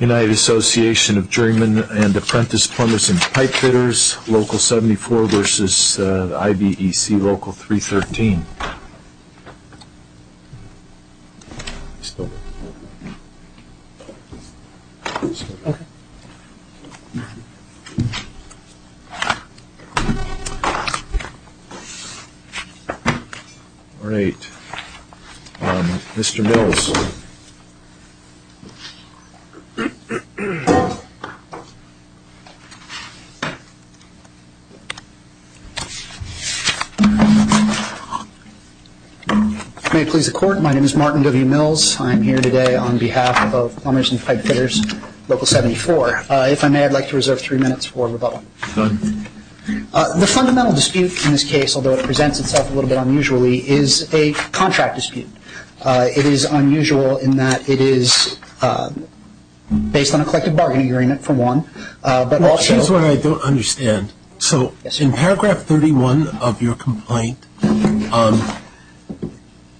United Association of Journeymen and Apprentice Plumbers and Pipefitters Local 74 versus IBEC Local 313 May it please the court, my name is Martin W. Mills. I'm here today on behalf of Plumbers and Pipefitters Local 74. If I may, I'd like to reserve three minutes for rebuttal. Go ahead. The fundamental dispute in this case, although it presents itself a little bit unusually, is a contract dispute. It is unusual in that it is based on a collective bargaining agreement, for one. Well, here's what I don't understand. So in paragraph 31 of your complaint,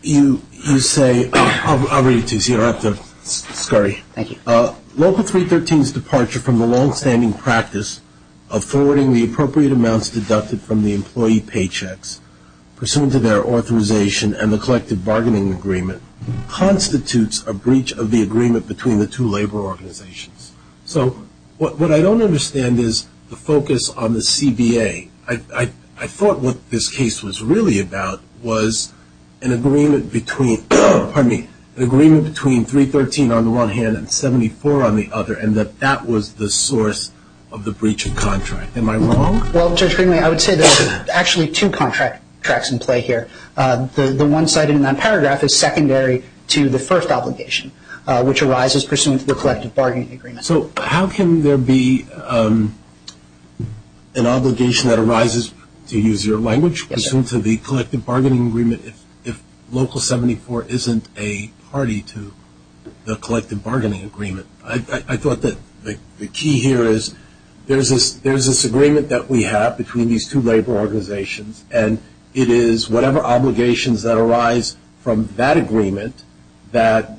you say, I'll read it to you so you don't have to scurry. Thank you. Local 313's departure from the long-standing practice of forwarding the appropriate amounts deducted from the employee paychecks, pursuant to their authorization and the collective bargaining agreement, constitutes a breach of the agreement between the two labor organizations. So what I don't understand is the focus on the CBA. I thought what this case was really about was an agreement between 313 on the one hand and 74 on the other, and that that was the source of the breach of contract. Am I wrong? Well, Judge Greenlee, I would say there's actually two contracts in play here. The one cited in that paragraph is secondary to the first obligation, which arises pursuant to the collective bargaining agreement. So how can there be an obligation that arises, to use your language, pursuant to the collective bargaining agreement if Local 74 isn't a party to the collective bargaining agreement? I thought that the key here is there's this agreement that we have between these two labor organizations, and it is whatever obligations that arise from that agreement that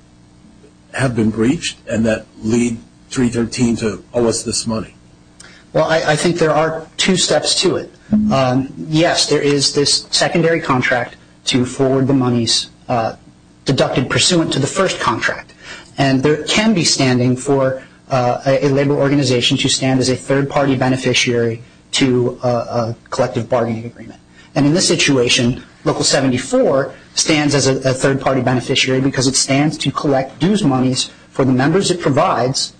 have been breached and that lead 313 to owe us this money. Well, I think there are two steps to it. Yes, there is this secondary contract to forward the monies deducted pursuant to the first contract, and there can be standing for a labor organization to stand as a third-party beneficiary to a collective bargaining agreement. And in this situation, Local 74 stands as a third-party beneficiary because it stands to collect dues monies for the members it provides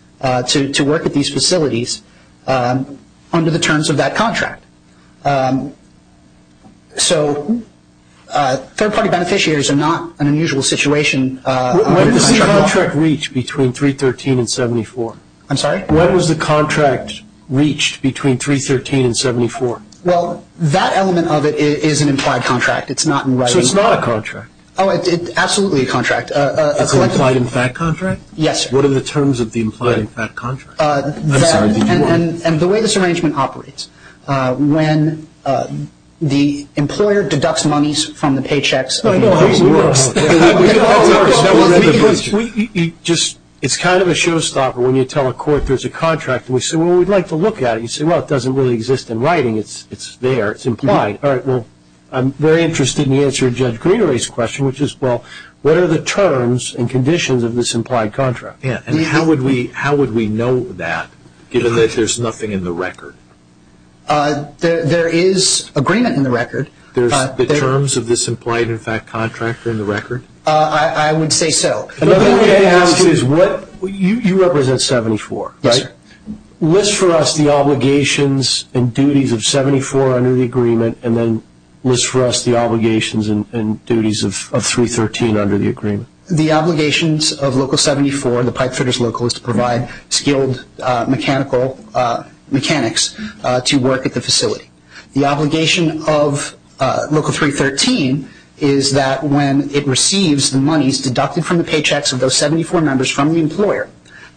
to work at these facilities under the terms of that contract. So third-party beneficiaries are not an unusual situation. When does the contract reach between 313 and 74? I'm sorry? When was the contract reached between 313 and 74? Well, that element of it is an implied contract. It's not in writing. So it's not a contract? Oh, it's absolutely a contract. It's an implied in fact contract? Yes, sir. What are the terms of the implied in fact contract? And the way this arrangement operates, when the employer deducts monies from the paychecks It's kind of a showstopper when you tell a court there's a contract. We say, well, we'd like to look at it. You say, well, it doesn't really exist in writing. It's there. It's implied. All right, well, I'm very interested in the answer to Judge Greenery's question, which is, well, what are the terms and conditions of this implied contract? And how would we know that, given that there's nothing in the record? There is agreement in the record. There's the terms of this implied in fact contract are in the record? I would say so. Another way to ask is, you represent 74, right? Yes, sir. List for us the obligations and duties of 74 under the agreement, and then list for us the obligations and duties of 313 under the agreement. The obligations of Local 74, the pipefitters local, is to provide skilled mechanics to work at the facility. The obligation of Local 313 is that when it receives the monies deducted from the paychecks of those 74 members from the employer,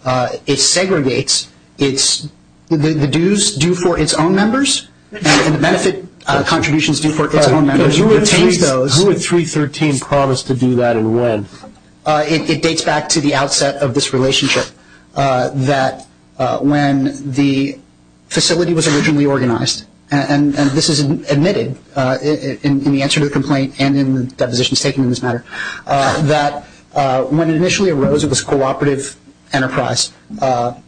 it segregates the dues due for its own members and the benefit contributions due for its own members and retains those. Who would 313 promise to do that and when? It dates back to the outset of this relationship, that when the facility was originally organized and this is admitted in the answer to the complaint and in the depositions taken in this matter, that when it initially arose, it was a cooperative enterprise, that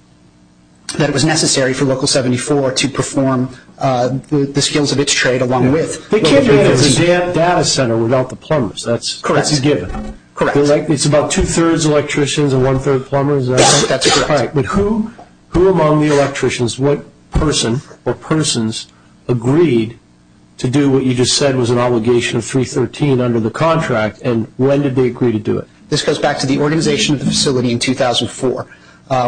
it was necessary for Local 74 to perform the skills of its trade along with Local 313. They can't do it as a data center without the plumbers. That's a given. Correct. It's about two-thirds electricians and one-third plumbers. That's correct. But who among the electricians, what person or persons, agreed to do what you just said was an obligation of 313 under the contract and when did they agree to do it? This goes back to the organization of the facility in 2004,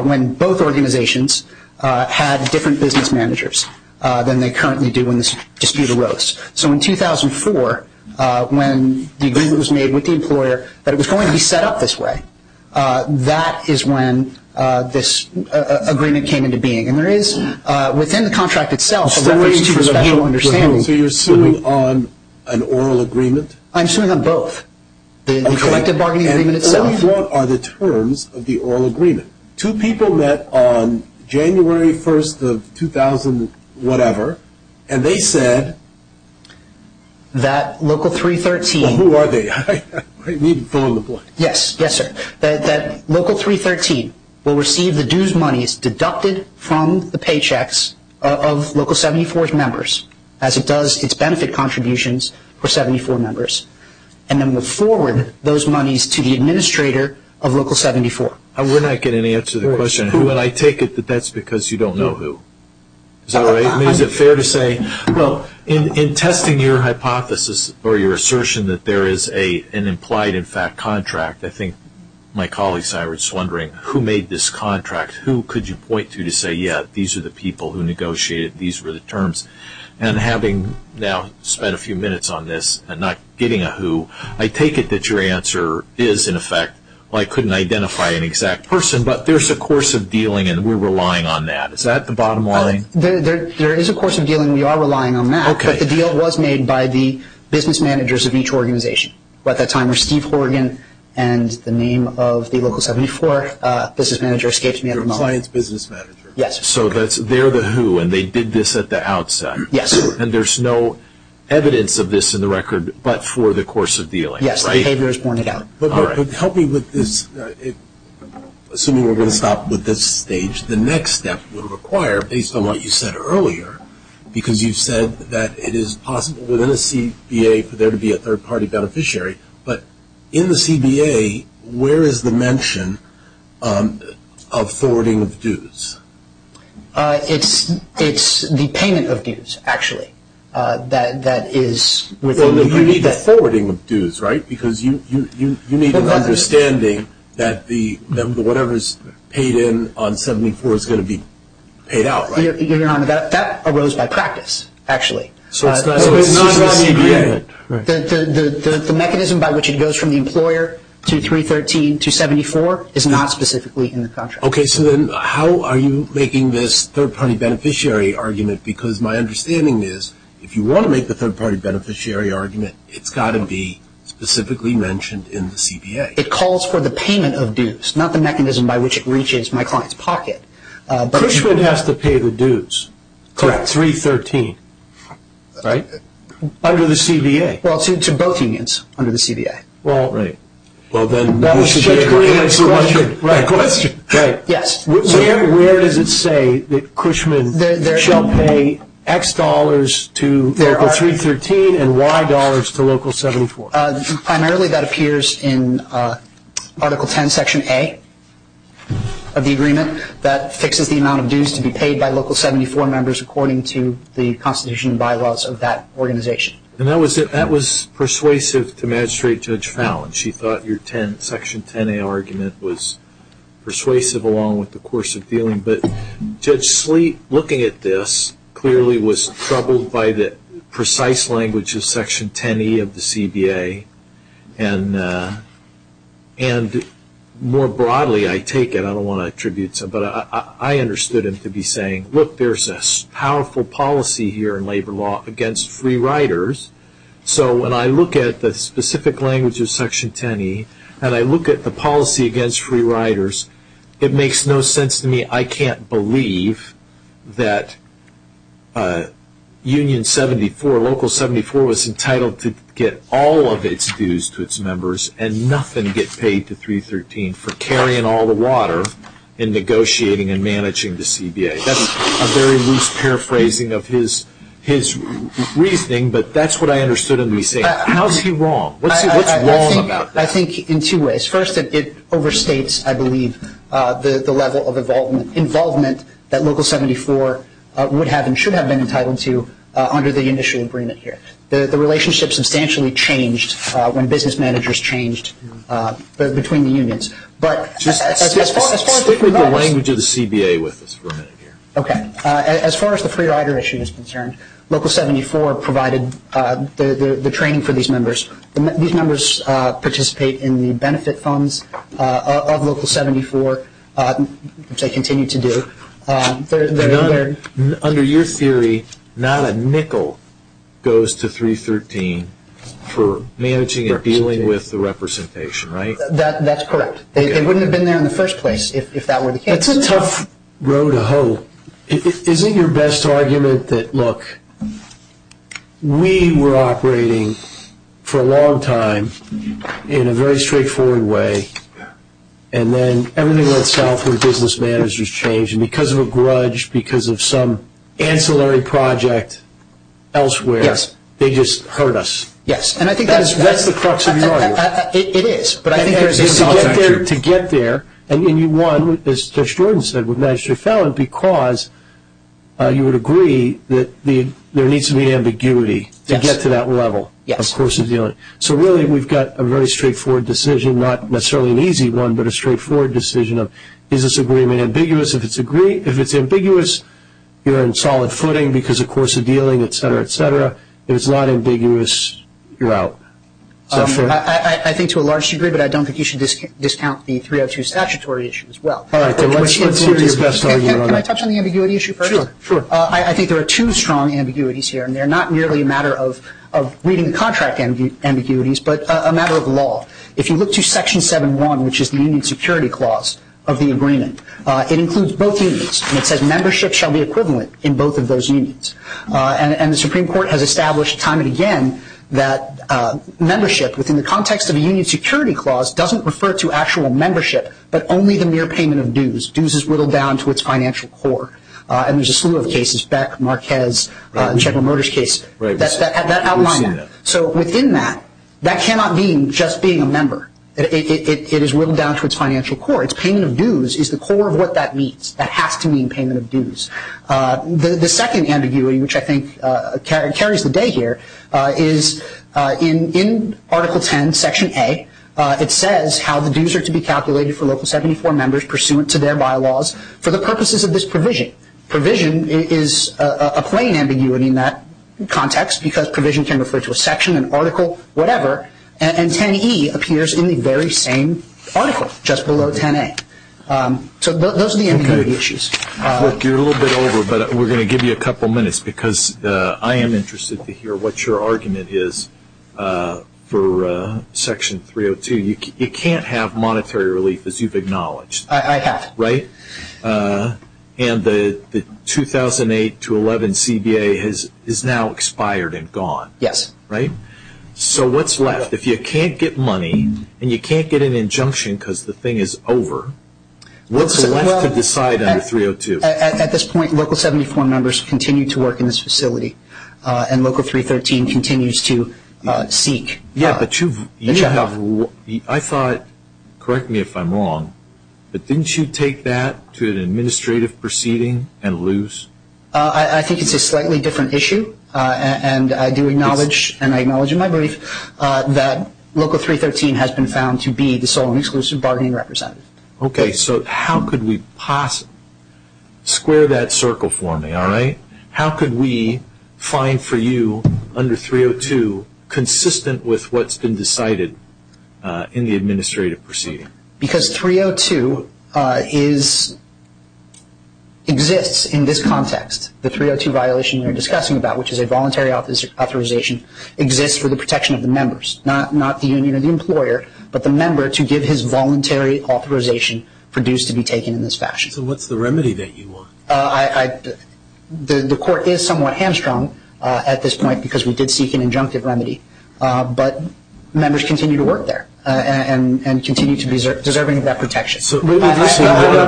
when both organizations had different business managers than they currently do when this dispute arose. So in 2004, when the agreement was made with the employer that it was going to be set up this way, that is when this agreement came into being. And there is, within the contract itself, a reference to a special understanding. So you're suing on an oral agreement? I'm suing on both. The collective bargaining agreement itself. Okay. And what are the terms of the oral agreement? Two people met on January 1st of 2000-whatever and they said that Local 313… Who are they? I need to fill in the blank. Yes, yes, sir. That Local 313 will receive the dues monies deducted from the paychecks of Local 74's members as it does its benefit contributions for 74 members and then will forward those monies to the administrator of Local 74. We're not getting any answer to the question. I take it that that's because you don't know who. Is that right? Is it fair to say? Well, in testing your hypothesis or your assertion that there is an implied, in fact, contract, I think my colleagues and I were just wondering who made this contract. Who could you point to to say, yeah, these are the people who negotiated, these were the terms. And having now spent a few minutes on this and not getting a who, I take it that your answer is, in effect, well, I couldn't identify an exact person, but there's a course of dealing and we're relying on that. Is that the bottom line? There is a course of dealing. We are relying on that. Okay. But the deal was made by the business managers of each organization. At that time, it was Steve Horgan and the name of the Local 74 business manager escaped me at the moment. Your client's business manager. Yes. So they're the who and they did this at the outset. Yes. And there's no evidence of this in the record but for the course of dealing, right? Yes. The behavior is borne out. All right. But help me with this. Assuming we're going to stop with this stage, the next step would require, based on what you said earlier, because you said that it is possible within a CBA for there to be a third-party beneficiary, but in the CBA, where is the mention of forwarding of dues? It's the payment of dues, actually, that is within the agreement. You need the forwarding of dues, right? Because you need an understanding that whatever is paid in on 74 is going to be paid out, right? That arose by practice, actually. So it's not in the agreement. The mechanism by which it goes from the employer to 313 to 74 is not specifically in the contract. Okay. So then how are you making this third-party beneficiary argument? Because my understanding is if you want to make the third-party beneficiary argument, it's got to be specifically mentioned in the CBA. It calls for the payment of dues, not the mechanism by which it reaches my client's pocket. Cushman has to pay the dues. Correct. 313, right? Under the CBA. Well, to both unions under the CBA. Right. Well, then we should agree on the right question. Right. Yes. Where does it say that Cushman shall pay X dollars to Local 313 and Y dollars to Local 74? Primarily that appears in Article 10, Section A of the agreement that fixes the amount of dues to be paid by Local 74 members according to the constitution and bylaws of that organization. And that was persuasive to Magistrate Judge Fallon. She thought your Section 10A argument was persuasive along with the course of dealing. But Judge Sleet, looking at this, clearly was troubled by the precise language of Section 10E of the CBA. And more broadly, I take it, I don't want to attribute some, but I understood him to be saying, look, there's a powerful policy here in labor law against free riders. So when I look at the specific language of Section 10E, and I look at the policy against free riders, it makes no sense to me I can't believe that Union 74, Local 74, was entitled to get all of its dues to its members and nothing get paid to 313 for carrying all the water in negotiating and managing the CBA. That's a very loose paraphrasing of his reasoning, but that's what I understood him to be saying. How is he wrong? What's wrong about that? I think in two ways. First, it overstates, I believe, the level of involvement that Local 74 would have and should have been entitled to under the initial agreement here. The relationship substantially changed when business managers changed between the unions. Stick with the language of the CBA with us for a minute here. As far as the free rider issue is concerned, Local 74 provided the training for these members. These members participate in the benefit funds of Local 74, which they continue to do. Under your theory, not a nickel goes to 313 for managing and dealing with the representation, right? That's correct. They wouldn't have been there in the first place if that were the case. That's a tough road to hoe. Isn't your best argument that, look, we were operating for a long time in a very straightforward way and then everything went south when business managers changed and because of a grudge, because of some ancillary project elsewhere, they just hurt us? Yes. That's the crux of the argument. It is. To get there, and you won, as Judge Jordan said, with Magistrate Fallon, because you would agree that there needs to be ambiguity to get to that level of course of dealing. Yes. So really we've got a very straightforward decision, not necessarily an easy one, but a straightforward decision of is this agreement ambiguous? If it's ambiguous, you're in solid footing because of course of dealing, et cetera, et cetera. If it's not ambiguous, you're out. I think to a large degree, but I don't think you should discount the 302 statutory issue as well. All right. Let's hear his best argument on that. Can I touch on the ambiguity issue first? Sure. I think there are two strong ambiguities here, and they're not merely a matter of reading the contract ambiguities but a matter of law. If you look to Section 7-1, which is the union security clause of the agreement, it includes both unions and it says membership shall be equivalent in both of those unions. And the Supreme Court has established time and again that membership, within the context of a union security clause, doesn't refer to actual membership but only the mere payment of dues. Dues is whittled down to its financial core. And there's a slew of cases, Beck, Marquez, General Motors case, that outline that. So within that, that cannot mean just being a member. It is whittled down to its financial core. Its payment of dues is the core of what that means. That has to mean payment of dues. The second ambiguity, which I think carries the day here, is in Article 10, Section A, it says how the dues are to be calculated for Local 74 members pursuant to their bylaws for the purposes of this provision. Provision is a plain ambiguity in that context because provision can refer to a section, an article, whatever. And 10E appears in the very same article, just below 10A. So those are the ambiguity issues. Rick, you're a little bit over, but we're going to give you a couple minutes because I am interested to hear what your argument is for Section 302. You can't have monetary relief, as you've acknowledged. I have. Right? And the 2008-11 CBA is now expired and gone. Yes. Right? So what's left? If you can't get money and you can't get an injunction because the thing is over, what's left to decide under 302? At this point, Local 74 members continue to work in this facility and Local 313 continues to seek the checkoff. I thought, correct me if I'm wrong, but didn't you take that to an administrative proceeding and lose? I think it's a slightly different issue, and I do acknowledge, and I acknowledge in my brief, that Local 313 has been found to be the sole and exclusive bargaining representative. Okay. So how could we possibly – square that circle for me, all right? How could we find for you, under 302, consistent with what's been decided in the administrative proceeding? Because 302 exists in this context. The 302 violation you're discussing about, which is a voluntary authorization, exists for the protection of the members. Not the union or the employer, but the member to give his voluntary authorization for dues to be taken in this fashion. So what's the remedy that you want? The court is somewhat hamstrung at this point because we did seek an injunctive remedy, but members continue to work there and continue to be deserving of that protection. I'm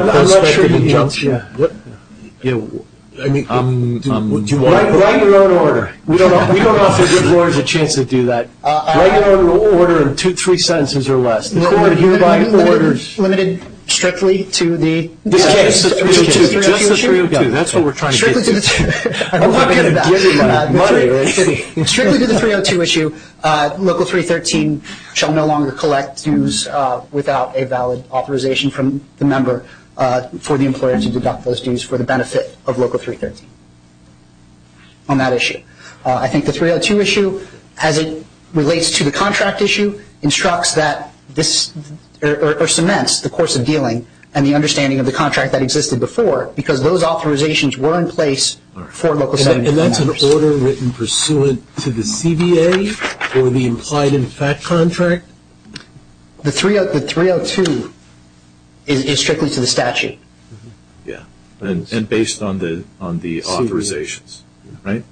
not sure you need – I'm not sure you need injunction. Write your own order. We don't offer employers a chance to do that. Write your own order in three sentences or less. The court hereby orders – Limited strictly to the – This case. Just the 302. Just the 302. That's what we're trying to get to. Strictly to the – I'm not going to give you money. Strictly to the 302 issue, Local 313 shall no longer collect dues without a valid authorization from the member for the employer to deduct those dues for the benefit of Local 313 on that issue. I think the 302 issue, as it relates to the contract issue, instructs that this – or cements the course of dealing and the understanding of the contract that existed before because those authorizations were in place for Local 714. And that's an order written pursuant to the CBA or the implied in fact contract? The 302 is strictly to the statute. Yeah. And based on the authorizations, right?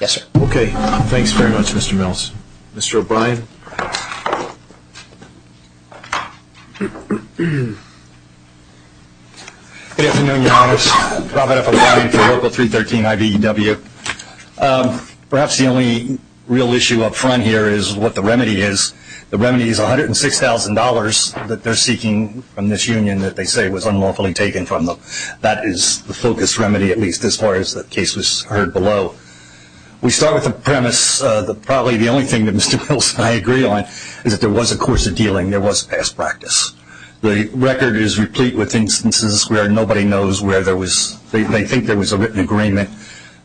Yes, sir. Okay. Thanks very much, Mr. Mills. Mr. O'Brien. Good afternoon, Your Honors. Robert F. O'Brien for Local 313 IBEW. Perhaps the only real issue up front here is what the remedy is. The remedy is $106,000 that they're seeking from this union that they say was unlawfully taken from them. That is the focus remedy, at least as far as the case was heard below. We start with the premise that probably the only thing that Mr. Mills and I agree on is that there was a course of dealing. There was past practice. The record is replete with instances where nobody knows where there was – they think there was a written agreement.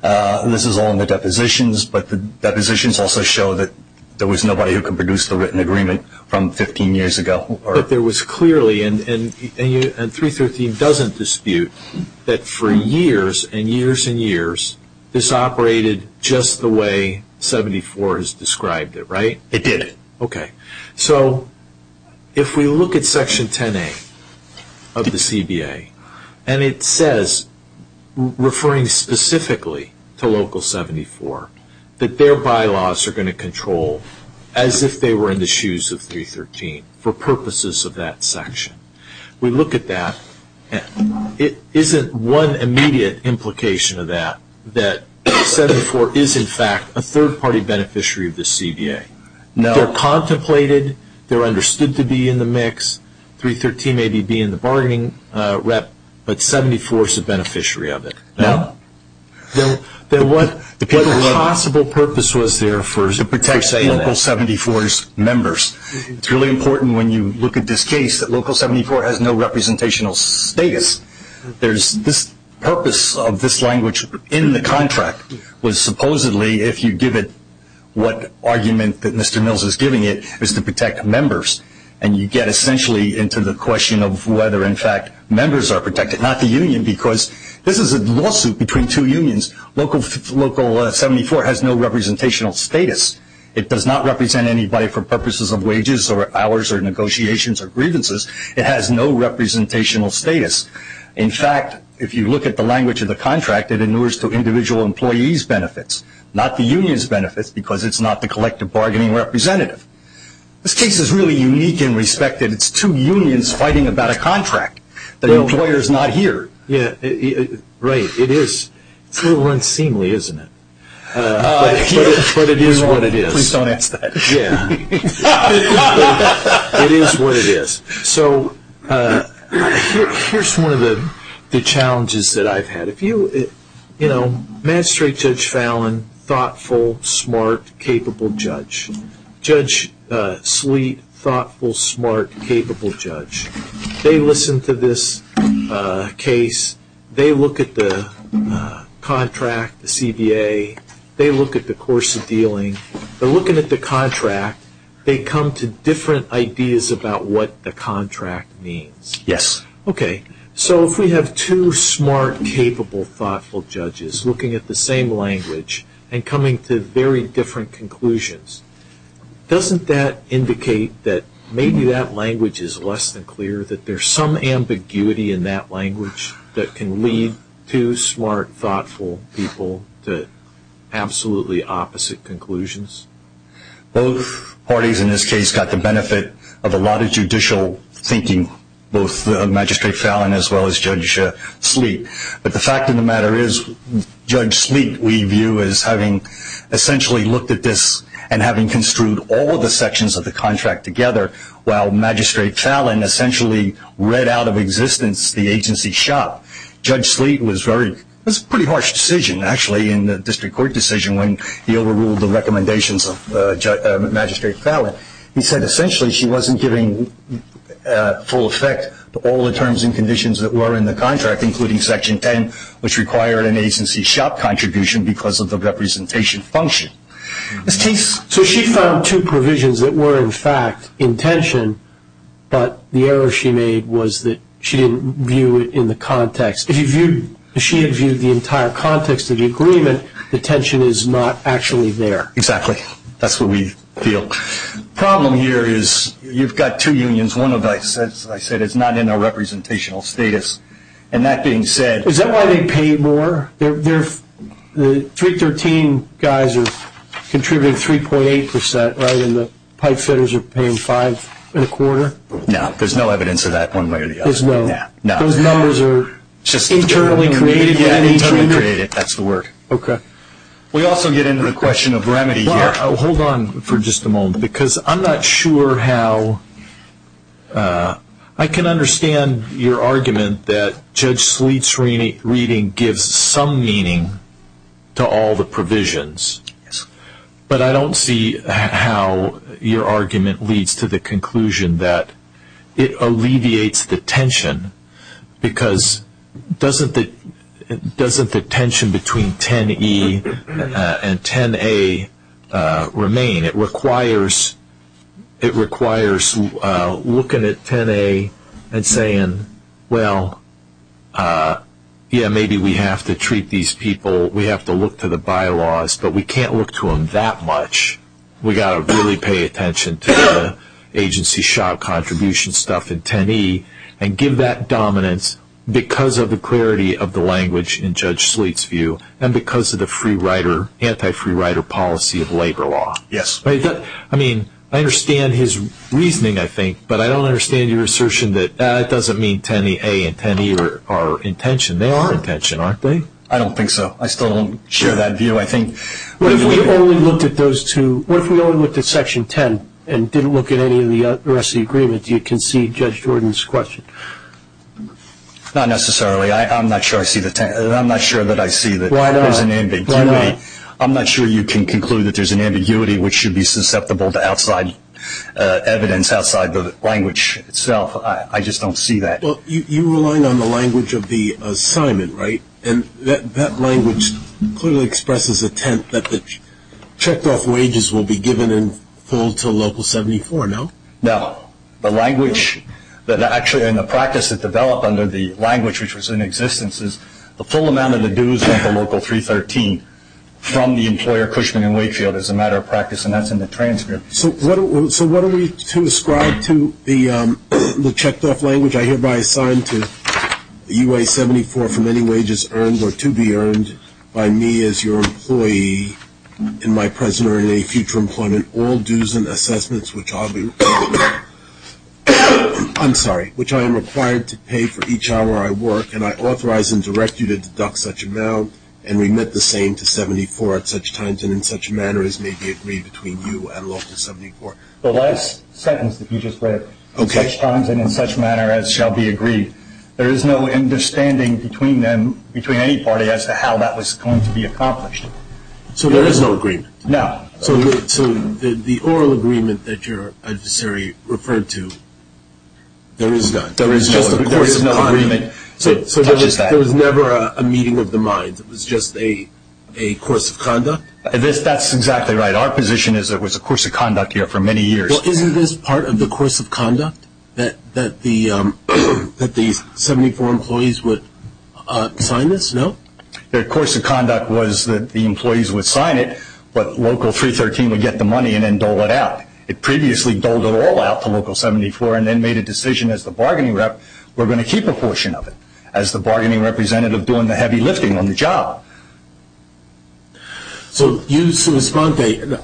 This is all in the depositions, but the depositions also show that there was nobody who could produce the written agreement from 15 years ago. But there was clearly – and 313 doesn't dispute that for years and years and years, this operated just the way 74 has described it, right? It did. Okay. So if we look at Section 10A of the CBA and it says, referring specifically to Local 74, that their bylaws are going to control as if they were in the shoes of 313 for purposes of that section. We look at that. It isn't one immediate implication of that that 74 is, in fact, a third-party beneficiary of the CBA. No. They're contemplated. They're understood to be in the mix. 313 may be in the bargaining rep, but 74 is a beneficiary of it. No. Then what possible purpose was there for – To protect Local 74's members. It's really important when you look at this case that Local 74 has no representational status. The purpose of this language in the contract was supposedly, if you give it what argument that Mr. Mills is giving it, is to protect members. And you get essentially into the question of whether, in fact, members are protected, not the union, because this is a lawsuit between two unions. Local 74 has no representational status. It does not represent anybody for purposes of wages or hours or negotiations or grievances. It has no representational status. In fact, if you look at the language of the contract, it inures to individual employees' benefits, not the union's benefits because it's not the collective bargaining representative. This case is really unique in respect that it's two unions fighting about a contract. The employer is not here. Right. It is. It's a little unseemly, isn't it? But it is what it is. Please don't answer that. Yeah. It is what it is. So here's one of the challenges that I've had. If you, you know, magistrate Judge Fallon, thoughtful, smart, capable judge. Judge Sleet, thoughtful, smart, capable judge. They listen to this case. They look at the contract, the CBA. They look at the course of dealing. They're looking at the contract. They come to different ideas about what the contract means. Yes. Okay. So if we have two smart, capable, thoughtful judges looking at the same language and coming to very different conclusions, doesn't that indicate that maybe that language is less than clear, that there's some ambiguity in that language that can lead two smart, thoughtful people to absolutely opposite conclusions? Both parties in this case got the benefit of a lot of judicial thinking, both Magistrate Fallon as well as Judge Sleet. But the fact of the matter is Judge Sleet we view as having essentially looked at this and having construed all of the sections of the contract together, while Magistrate Fallon essentially read out of existence the agency shop. Judge Sleet was very, it was a pretty harsh decision, actually. In the district court decision when he overruled the recommendations of Magistrate Fallon, he said essentially she wasn't giving full effect to all the terms and conditions that were in the contract, including Section 10, which required an agency shop contribution because of the representation function. So she found two provisions that were, in fact, intention, but the error she made was that she didn't view it in the context. If she had viewed the entire context of the agreement, the tension is not actually there. Exactly. That's what we feel. The problem here is you've got two unions. One, as I said, is not in a representational status. And that being said, Is that why they pay more? The 313 guys are contributing 3.8 percent, right, and the pipe fitters are paying five and a quarter? No. There's no evidence of that one way or the other. There's no. Internally created. That's the word. Okay. We also get into the question of remedy here. Hold on for just a moment because I'm not sure how. I can understand your argument that Judge Sleet's reading gives some meaning to all the provisions, but I don't see how your argument leads to the conclusion that it alleviates the tension because doesn't the tension between 10E and 10A remain? It requires looking at 10A and saying, well, yeah, maybe we have to treat these people, we have to look to the bylaws, but we can't look to them that much. We've got to really pay attention to the agency shop contribution stuff in 10E and give that dominance because of the clarity of the language in Judge Sleet's view and because of the free rider, anti-free rider policy of labor law. Yes. I mean, I understand his reasoning, I think, but I don't understand your assertion that that doesn't mean 10A and 10E are in tension. They are in tension, aren't they? I don't think so. I still don't share that view. What if we only looked at those two? What if we only looked at Section 10 and didn't look at any of the rest of the agreement? Do you concede Judge Jordan's question? Not necessarily. I'm not sure that I see that there's an ambiguity. I'm not sure you can conclude that there's an ambiguity which should be susceptible to outside evidence, outside the language itself. I just don't see that. You're relying on the language of the assignment, right? And that language clearly expresses intent that the checked-off wages will be given in full to Local 74, no? No. The language that actually in the practice that developed under the language which was in existence is the full amount of the dues at the Local 313 from the employer, Cushman & Wakefield, as a matter of practice, and that's in the transcript. So what are we to ascribe to the checked-off language? I hereby assign to UA 74 for any wages earned or to be earned by me as your employee in my present or in any future employment all dues and assessments which I'll be – I'm sorry – which I am required to pay for each hour I work, and I authorize and direct you to deduct such amount and remit the same to 74 at such times and in such manner as may be agreed between you and Local 74. The last sentence that you just read, such times and in such manner as shall be agreed, there is no understanding between them, between any party, as to how that was going to be accomplished. So there is no agreement? No. So the oral agreement that your adversary referred to, there is none? There is no agreement. So there was never a meeting of the mind? It was just a course of conduct? That's exactly right. Our position is it was a course of conduct here for many years. Well, isn't this part of the course of conduct that the 74 employees would sign this? No? The course of conduct was that the employees would sign it, but Local 313 would get the money and then dole it out. It previously doled it all out to Local 74 and then made a decision as the bargaining rep we're going to keep a portion of it as the bargaining representative doing the heavy lifting on the job. So you unilaterally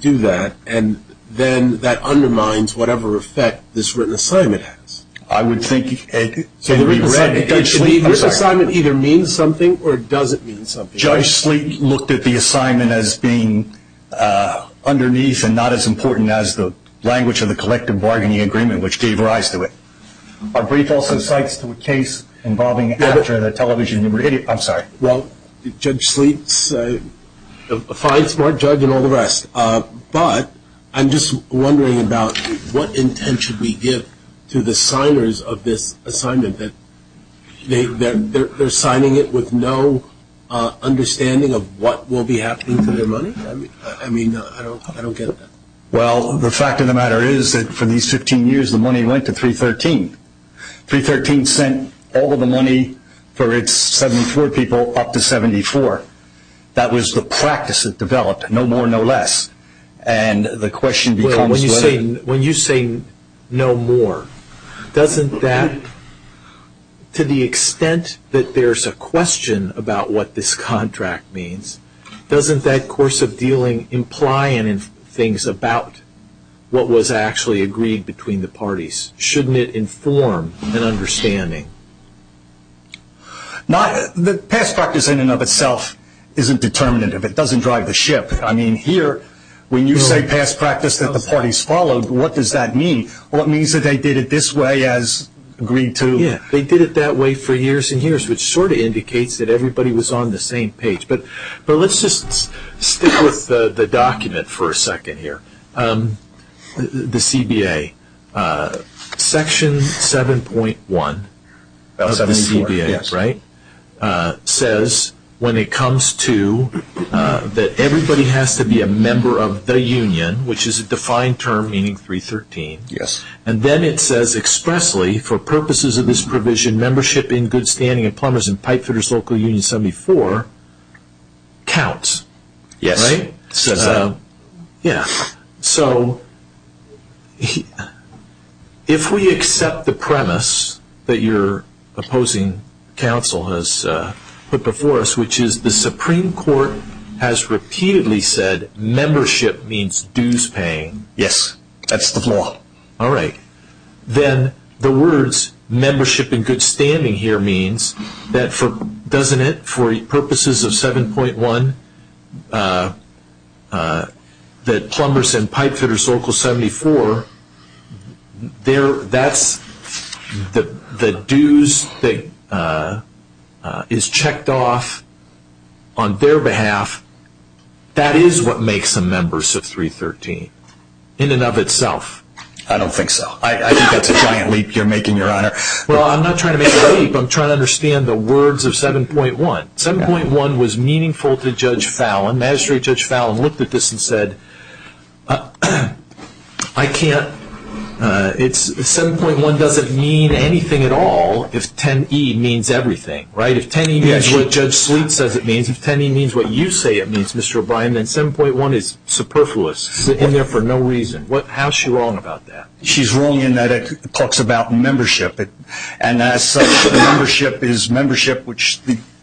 do that, and then that undermines whatever effect this written assignment has? I would think so. The written assignment either means something or it doesn't mean something. Judge Sleek looked at the assignment as being underneath and not as important as the language of the collective bargaining agreement, which gave rise to it. Our brief also cites to a case involving after the television and radio. I'm sorry. Well, Judge Sleek's a fine, smart judge and all the rest, but I'm just wondering about what intent should we give to the signers of this assignment? They're signing it with no understanding of what will be happening to their money? I mean, I don't get that. Well, the fact of the matter is that for these 15 years the money went to 313. 313 sent all of the money for its 74 people up to 74. That was the practice that developed, no more, no less, and the question becomes whether When you say no more, doesn't that, to the extent that there's a question about what this contract means, doesn't that course of dealing imply things about what was actually agreed between the parties? Shouldn't it inform an understanding? The past practice in and of itself isn't determinative. It doesn't drive the ship. I mean, here, when you say past practice that the parties followed, what does that mean? What means that they did it this way as agreed to? They did it that way for years and years, which sort of indicates that everybody was on the same page. But let's just stick with the document for a second here, the CBA. Section 7.1 of the CBA says when it comes to that everybody has to be a member of the union, which is a defined term meaning 313, and then it says expressly, for purposes of this provision, membership in Good Standing and Plumbers and Pipefitters Local Union 74 counts. Yes. Right? It says that. Yeah. So if we accept the premise that your opposing counsel has put before us, which is the Supreme Court has repeatedly said membership means dues paying. Yes. That's the law. All right. Then the words membership in Good Standing here means that for purposes of 7.1, that Plumbers and Pipefitters Local 74, that's the dues that is checked off on their behalf. That is what makes them members of 313 in and of itself. I don't think so. I think that's a giant leap you're making, Your Honor. Well, I'm not trying to make a leap. I'm trying to understand the words of 7.1. 7.1 was meaningful to Judge Fallin. Magistrate Judge Fallin looked at this and said, I can't, 7.1 doesn't mean anything at all if 10E means everything. Right? If 10E means what Judge Sweet says it means, if 10E means what you say it means, Mr. O'Brien, then 7.1 is superfluous, in there for no reason. How is she wrong about that? She's wrong in that it talks about membership, and membership is membership which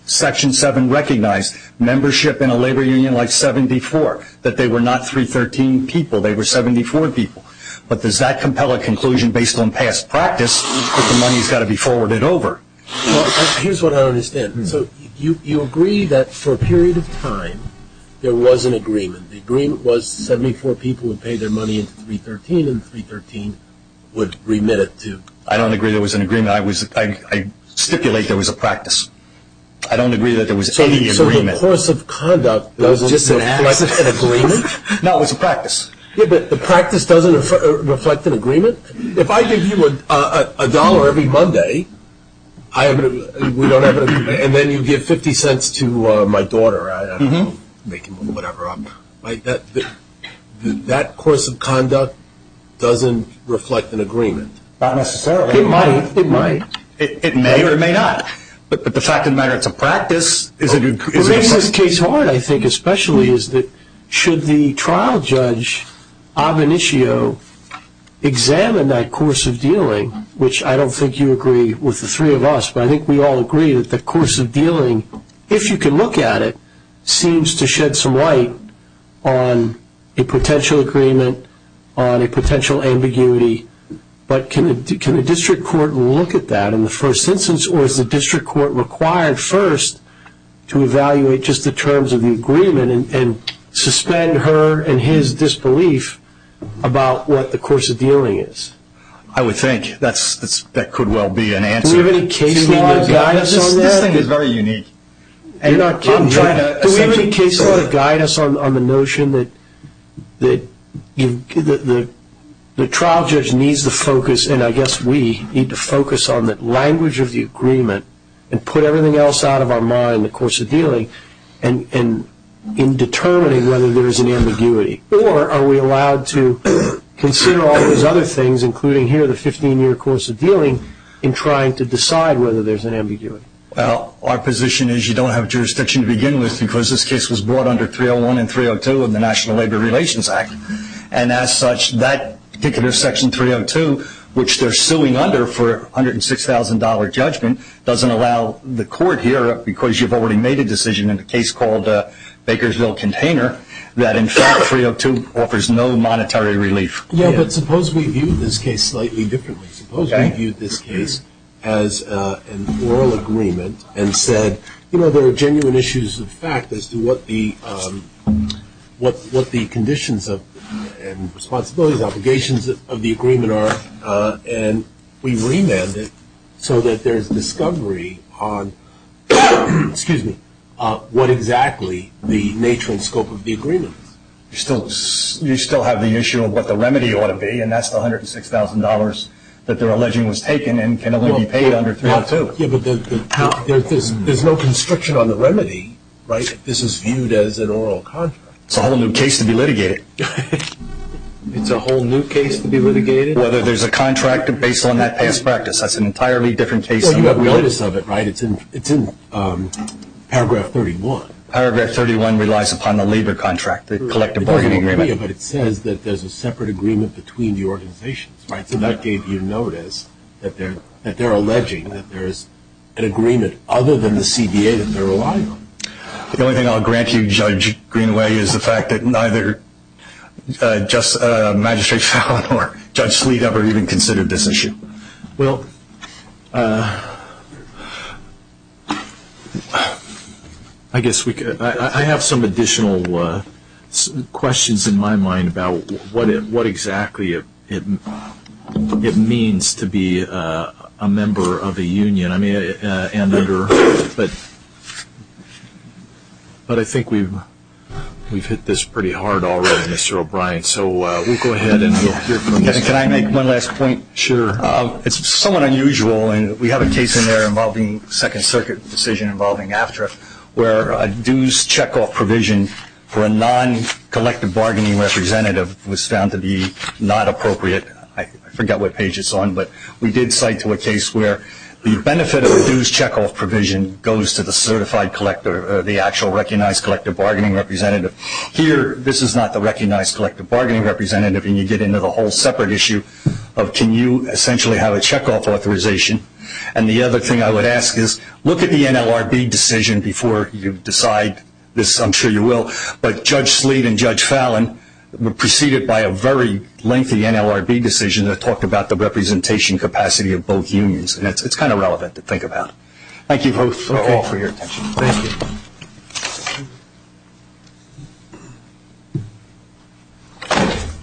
Section 7 recognized, membership in a labor union like 74, that they were not 313 people, they were 74 people. But does that compel a conclusion based on past practice that the money has got to be forwarded over? Here's what I don't understand. So you agree that for a period of time there was an agreement. The agreement was 74 people would pay their money into 313 and 313 would remit it to. I don't agree there was an agreement. I stipulate there was a practice. I don't agree that there was any agreement. So the course of conduct doesn't reflect an agreement? No, it was a practice. Yeah, but the practice doesn't reflect an agreement? If I give you a dollar every Monday and then you give 50 cents to my daughter, I don't know, whatever, that course of conduct doesn't reflect an agreement? Not necessarily. It might. It may or it may not. The thing that makes this case hard, I think especially, is that should the trial judge, ab initio, examine that course of dealing, which I don't think you agree with the three of us, but I think we all agree that the course of dealing, if you can look at it, seems to shed some light on a potential agreement, on a potential ambiguity. But can a district court look at that in the first instance or is the district court required first to evaluate just the terms of the agreement and suspend her and his disbelief about what the course of dealing is? I would think that could well be an answer. Do we have any case law that guides us on that? This thing is very unique. You're not kidding here. Do we have any case law that guides us on the notion that the trial judge needs to focus, and I guess we need to focus on the language of the agreement and put everything else out of our mind, the course of dealing, in determining whether there is an ambiguity? Or are we allowed to consider all those other things, including here the 15-year course of dealing, in trying to decide whether there's an ambiguity? Well, our position is you don't have jurisdiction to begin with because this case was brought under 301 and 302 of the National Labor Relations Act. And as such, that particular section 302, which they're suing under for $106,000 judgment, doesn't allow the court here, because you've already made a decision in the case called Bakersville Container, that in fact 302 offers no monetary relief. Yeah, but suppose we viewed this case slightly differently. Suppose we viewed this case as an oral agreement and said, you know, there are genuine issues of fact as to what the conditions and responsibilities, obligations of the agreement are, and we remanded so that there's discovery on what exactly the nature and scope of the agreement is. You still have the issue of what the remedy ought to be, and that's the $106,000 that they're alleging was taken and can only be paid under 302. Yeah, but there's no constriction on the remedy, right, if this is viewed as an oral contract. It's a whole new case to be litigated. It's a whole new case to be litigated? Whether there's a contract based on that past practice. That's an entirely different case. You have notice of it, right? It's in paragraph 31. Paragraph 31 relies upon the labor contract, the collective bargaining agreement. But it says that there's a separate agreement between the organizations. So that gave you notice that they're alleging that there's an agreement other than the CDA that they're relying on. The only thing I'll grant you, Judge Greenway, is the fact that neither Magistrate Fallin or Judge Sleet ever even considered this issue. Well, I guess I have some additional questions in my mind about what exactly it means to be a member of a union. But I think we've hit this pretty hard already, Mr. O'Brien. Can I make one last point? Sure. It's somewhat unusual. We have a case in there involving a Second Circuit decision involving AFTRA where a dues checkoff provision for a non-collective bargaining representative was found to be not appropriate. I forget what page it's on. But we did cite to a case where the benefit of a dues checkoff provision goes to the certified collector, the actual recognized collective bargaining representative. Here, this is not the recognized collective bargaining representative, and you get into the whole separate issue of can you essentially have a checkoff authorization. And the other thing I would ask is look at the NLRB decision before you decide this. I'm sure you will. But Judge Sleet and Judge Fallin proceeded by a very lengthy NLRB decision that talked about the representation capacity of both unions. And it's kind of relevant to think about. Thank you both for your attention. Thank you.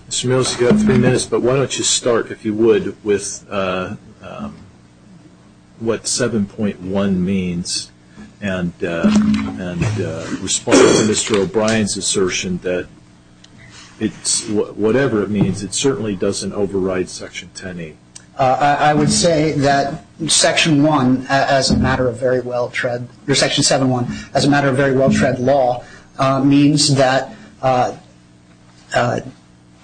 Mr. Mills, you have three minutes, but why don't you start, if you would, with what 7.1 means and respond to Mr. O'Brien's assertion that whatever it means, it certainly doesn't override Section 10E. I would say that Section 7.1, as a matter of very well-tread law, means that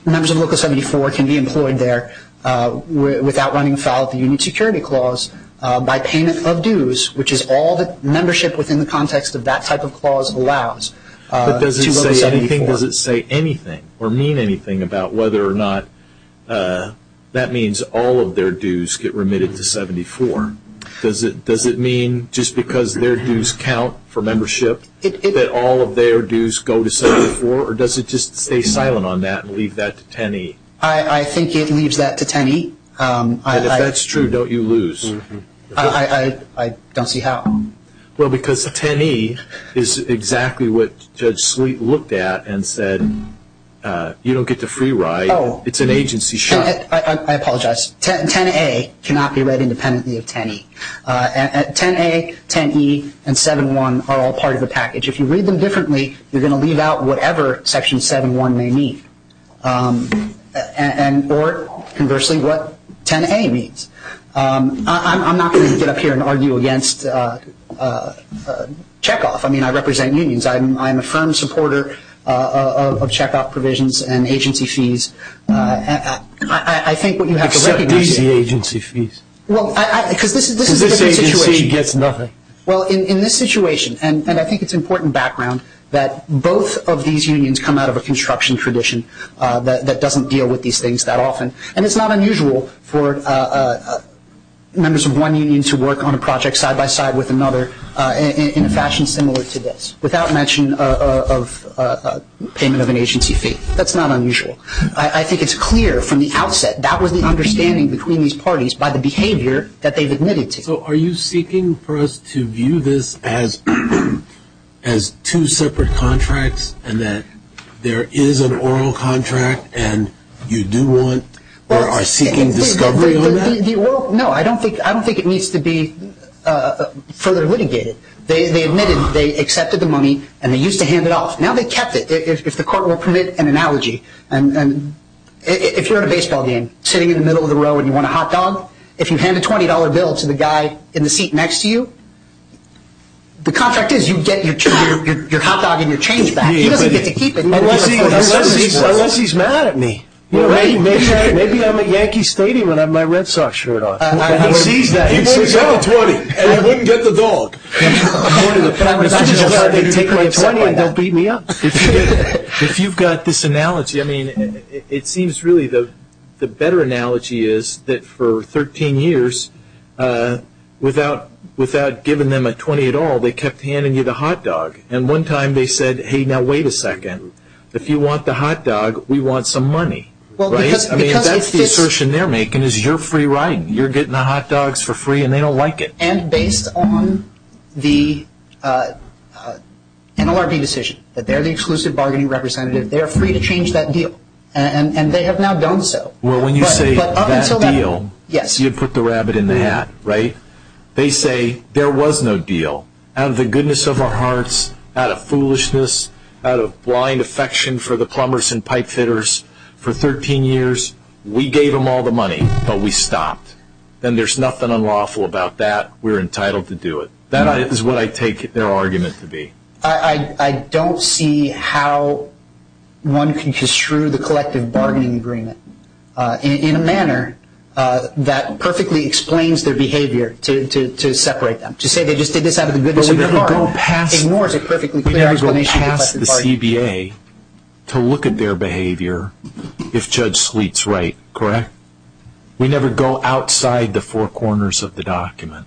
members of Local 74 can be employed there without running afoul of the Union Security Clause by payment of dues, which is all that membership within the context of that type of clause allows. But does it say anything? Or mean anything about whether or not that means all of their dues get remitted to 74? Does it mean just because their dues count for membership that all of their dues go to 74? Or does it just stay silent on that and leave that to 10E? I think it leaves that to 10E. And if that's true, don't you lose? I don't see how. Well, because 10E is exactly what Judge Sleet looked at and said, you don't get the free ride, it's an agency shock. I apologize. 10A cannot be read independently of 10E. 10A, 10E, and 7.1 are all part of the package. If you read them differently, you're going to leave out whatever Section 7.1 may mean, or conversely, what 10A means. I'm not going to get up here and argue against check-off. I mean, I represent unions. I'm a firm supporter of check-off provisions and agency fees. I think what you have to recognize is this is a different situation. Well, in this situation, and I think it's important background, that both of these unions come out of a construction tradition that doesn't deal with these things that often. And it's not unusual for members of one union to work on a project side-by-side with another in a fashion similar to this, without mention of payment of an agency fee. That's not unusual. I think it's clear from the outset that was the understanding between these parties by the behavior that they've admitted to. So are you seeking for us to view this as two separate contracts and that there is an oral contract and you do want or are seeking discovery on that? No, I don't think it needs to be further litigated. They admitted, they accepted the money, and they used to hand it off. Now they kept it. If the court will permit an analogy, if you're in a baseball game, sitting in the middle of the row and you want a hot dog, if you hand a $20 bill to the guy in the seat next to you, the contract is you get your hot dog and your change back. He doesn't get to keep it. Unless he's mad at me. Maybe I'm at Yankee Stadium and I have my Red Sox shirt on. He sees that. He says, I want $20, and I wouldn't get the dog. I'm just glad they take my $20 and don't beat me up. If you've got this analogy, it seems really the better analogy is that for 13 years, without giving them a $20 at all, they kept handing you the hot dog. And one time they said, hey, now wait a second. If you want the hot dog, we want some money. That's the assertion they're making is you're free riding. You're getting the hot dogs for free and they don't like it. And based on the NLRB decision that they're the exclusive bargaining representative, they're free to change that deal, and they have now done so. Well, when you say that deal, you put the rabbit in the hat, right? They say there was no deal. Out of the goodness of our hearts, out of foolishness, out of blind affection for the plumbers and pipe fitters, for 13 years, we gave them all the money, but we stopped. Then there's nothing unlawful about that. We're entitled to do it. That is what I take their argument to be. I don't see how one can construe the collective bargaining agreement in a manner that perfectly explains their behavior to separate them. To say they just did this out of the goodness of their heart ignores a perfectly clear explanation. We never go past the CBA to look at their behavior if Judge Sleet's right, correct? We never go outside the four corners of the document.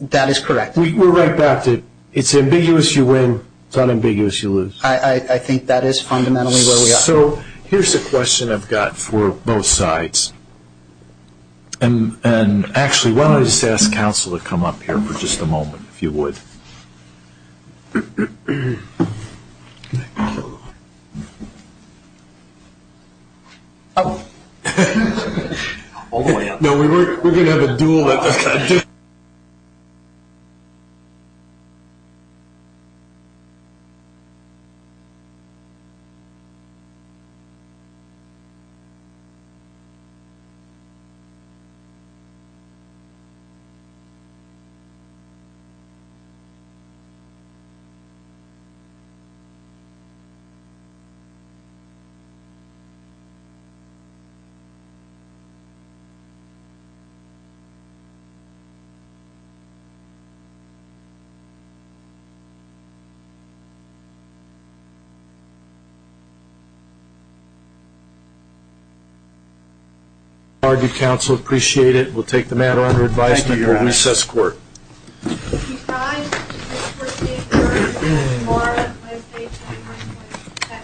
That is correct. We're right back to it's ambiguous, you win. It's not ambiguous, you lose. I think that is fundamentally where we are. So here's a question I've got for both sides. Actually, why don't I just ask counsel to come up here for just a moment, if you would. Thank you. Thank you, counsel. Appreciate it. We'll take the matter under advice. Thank you, Your Honor. We assess court.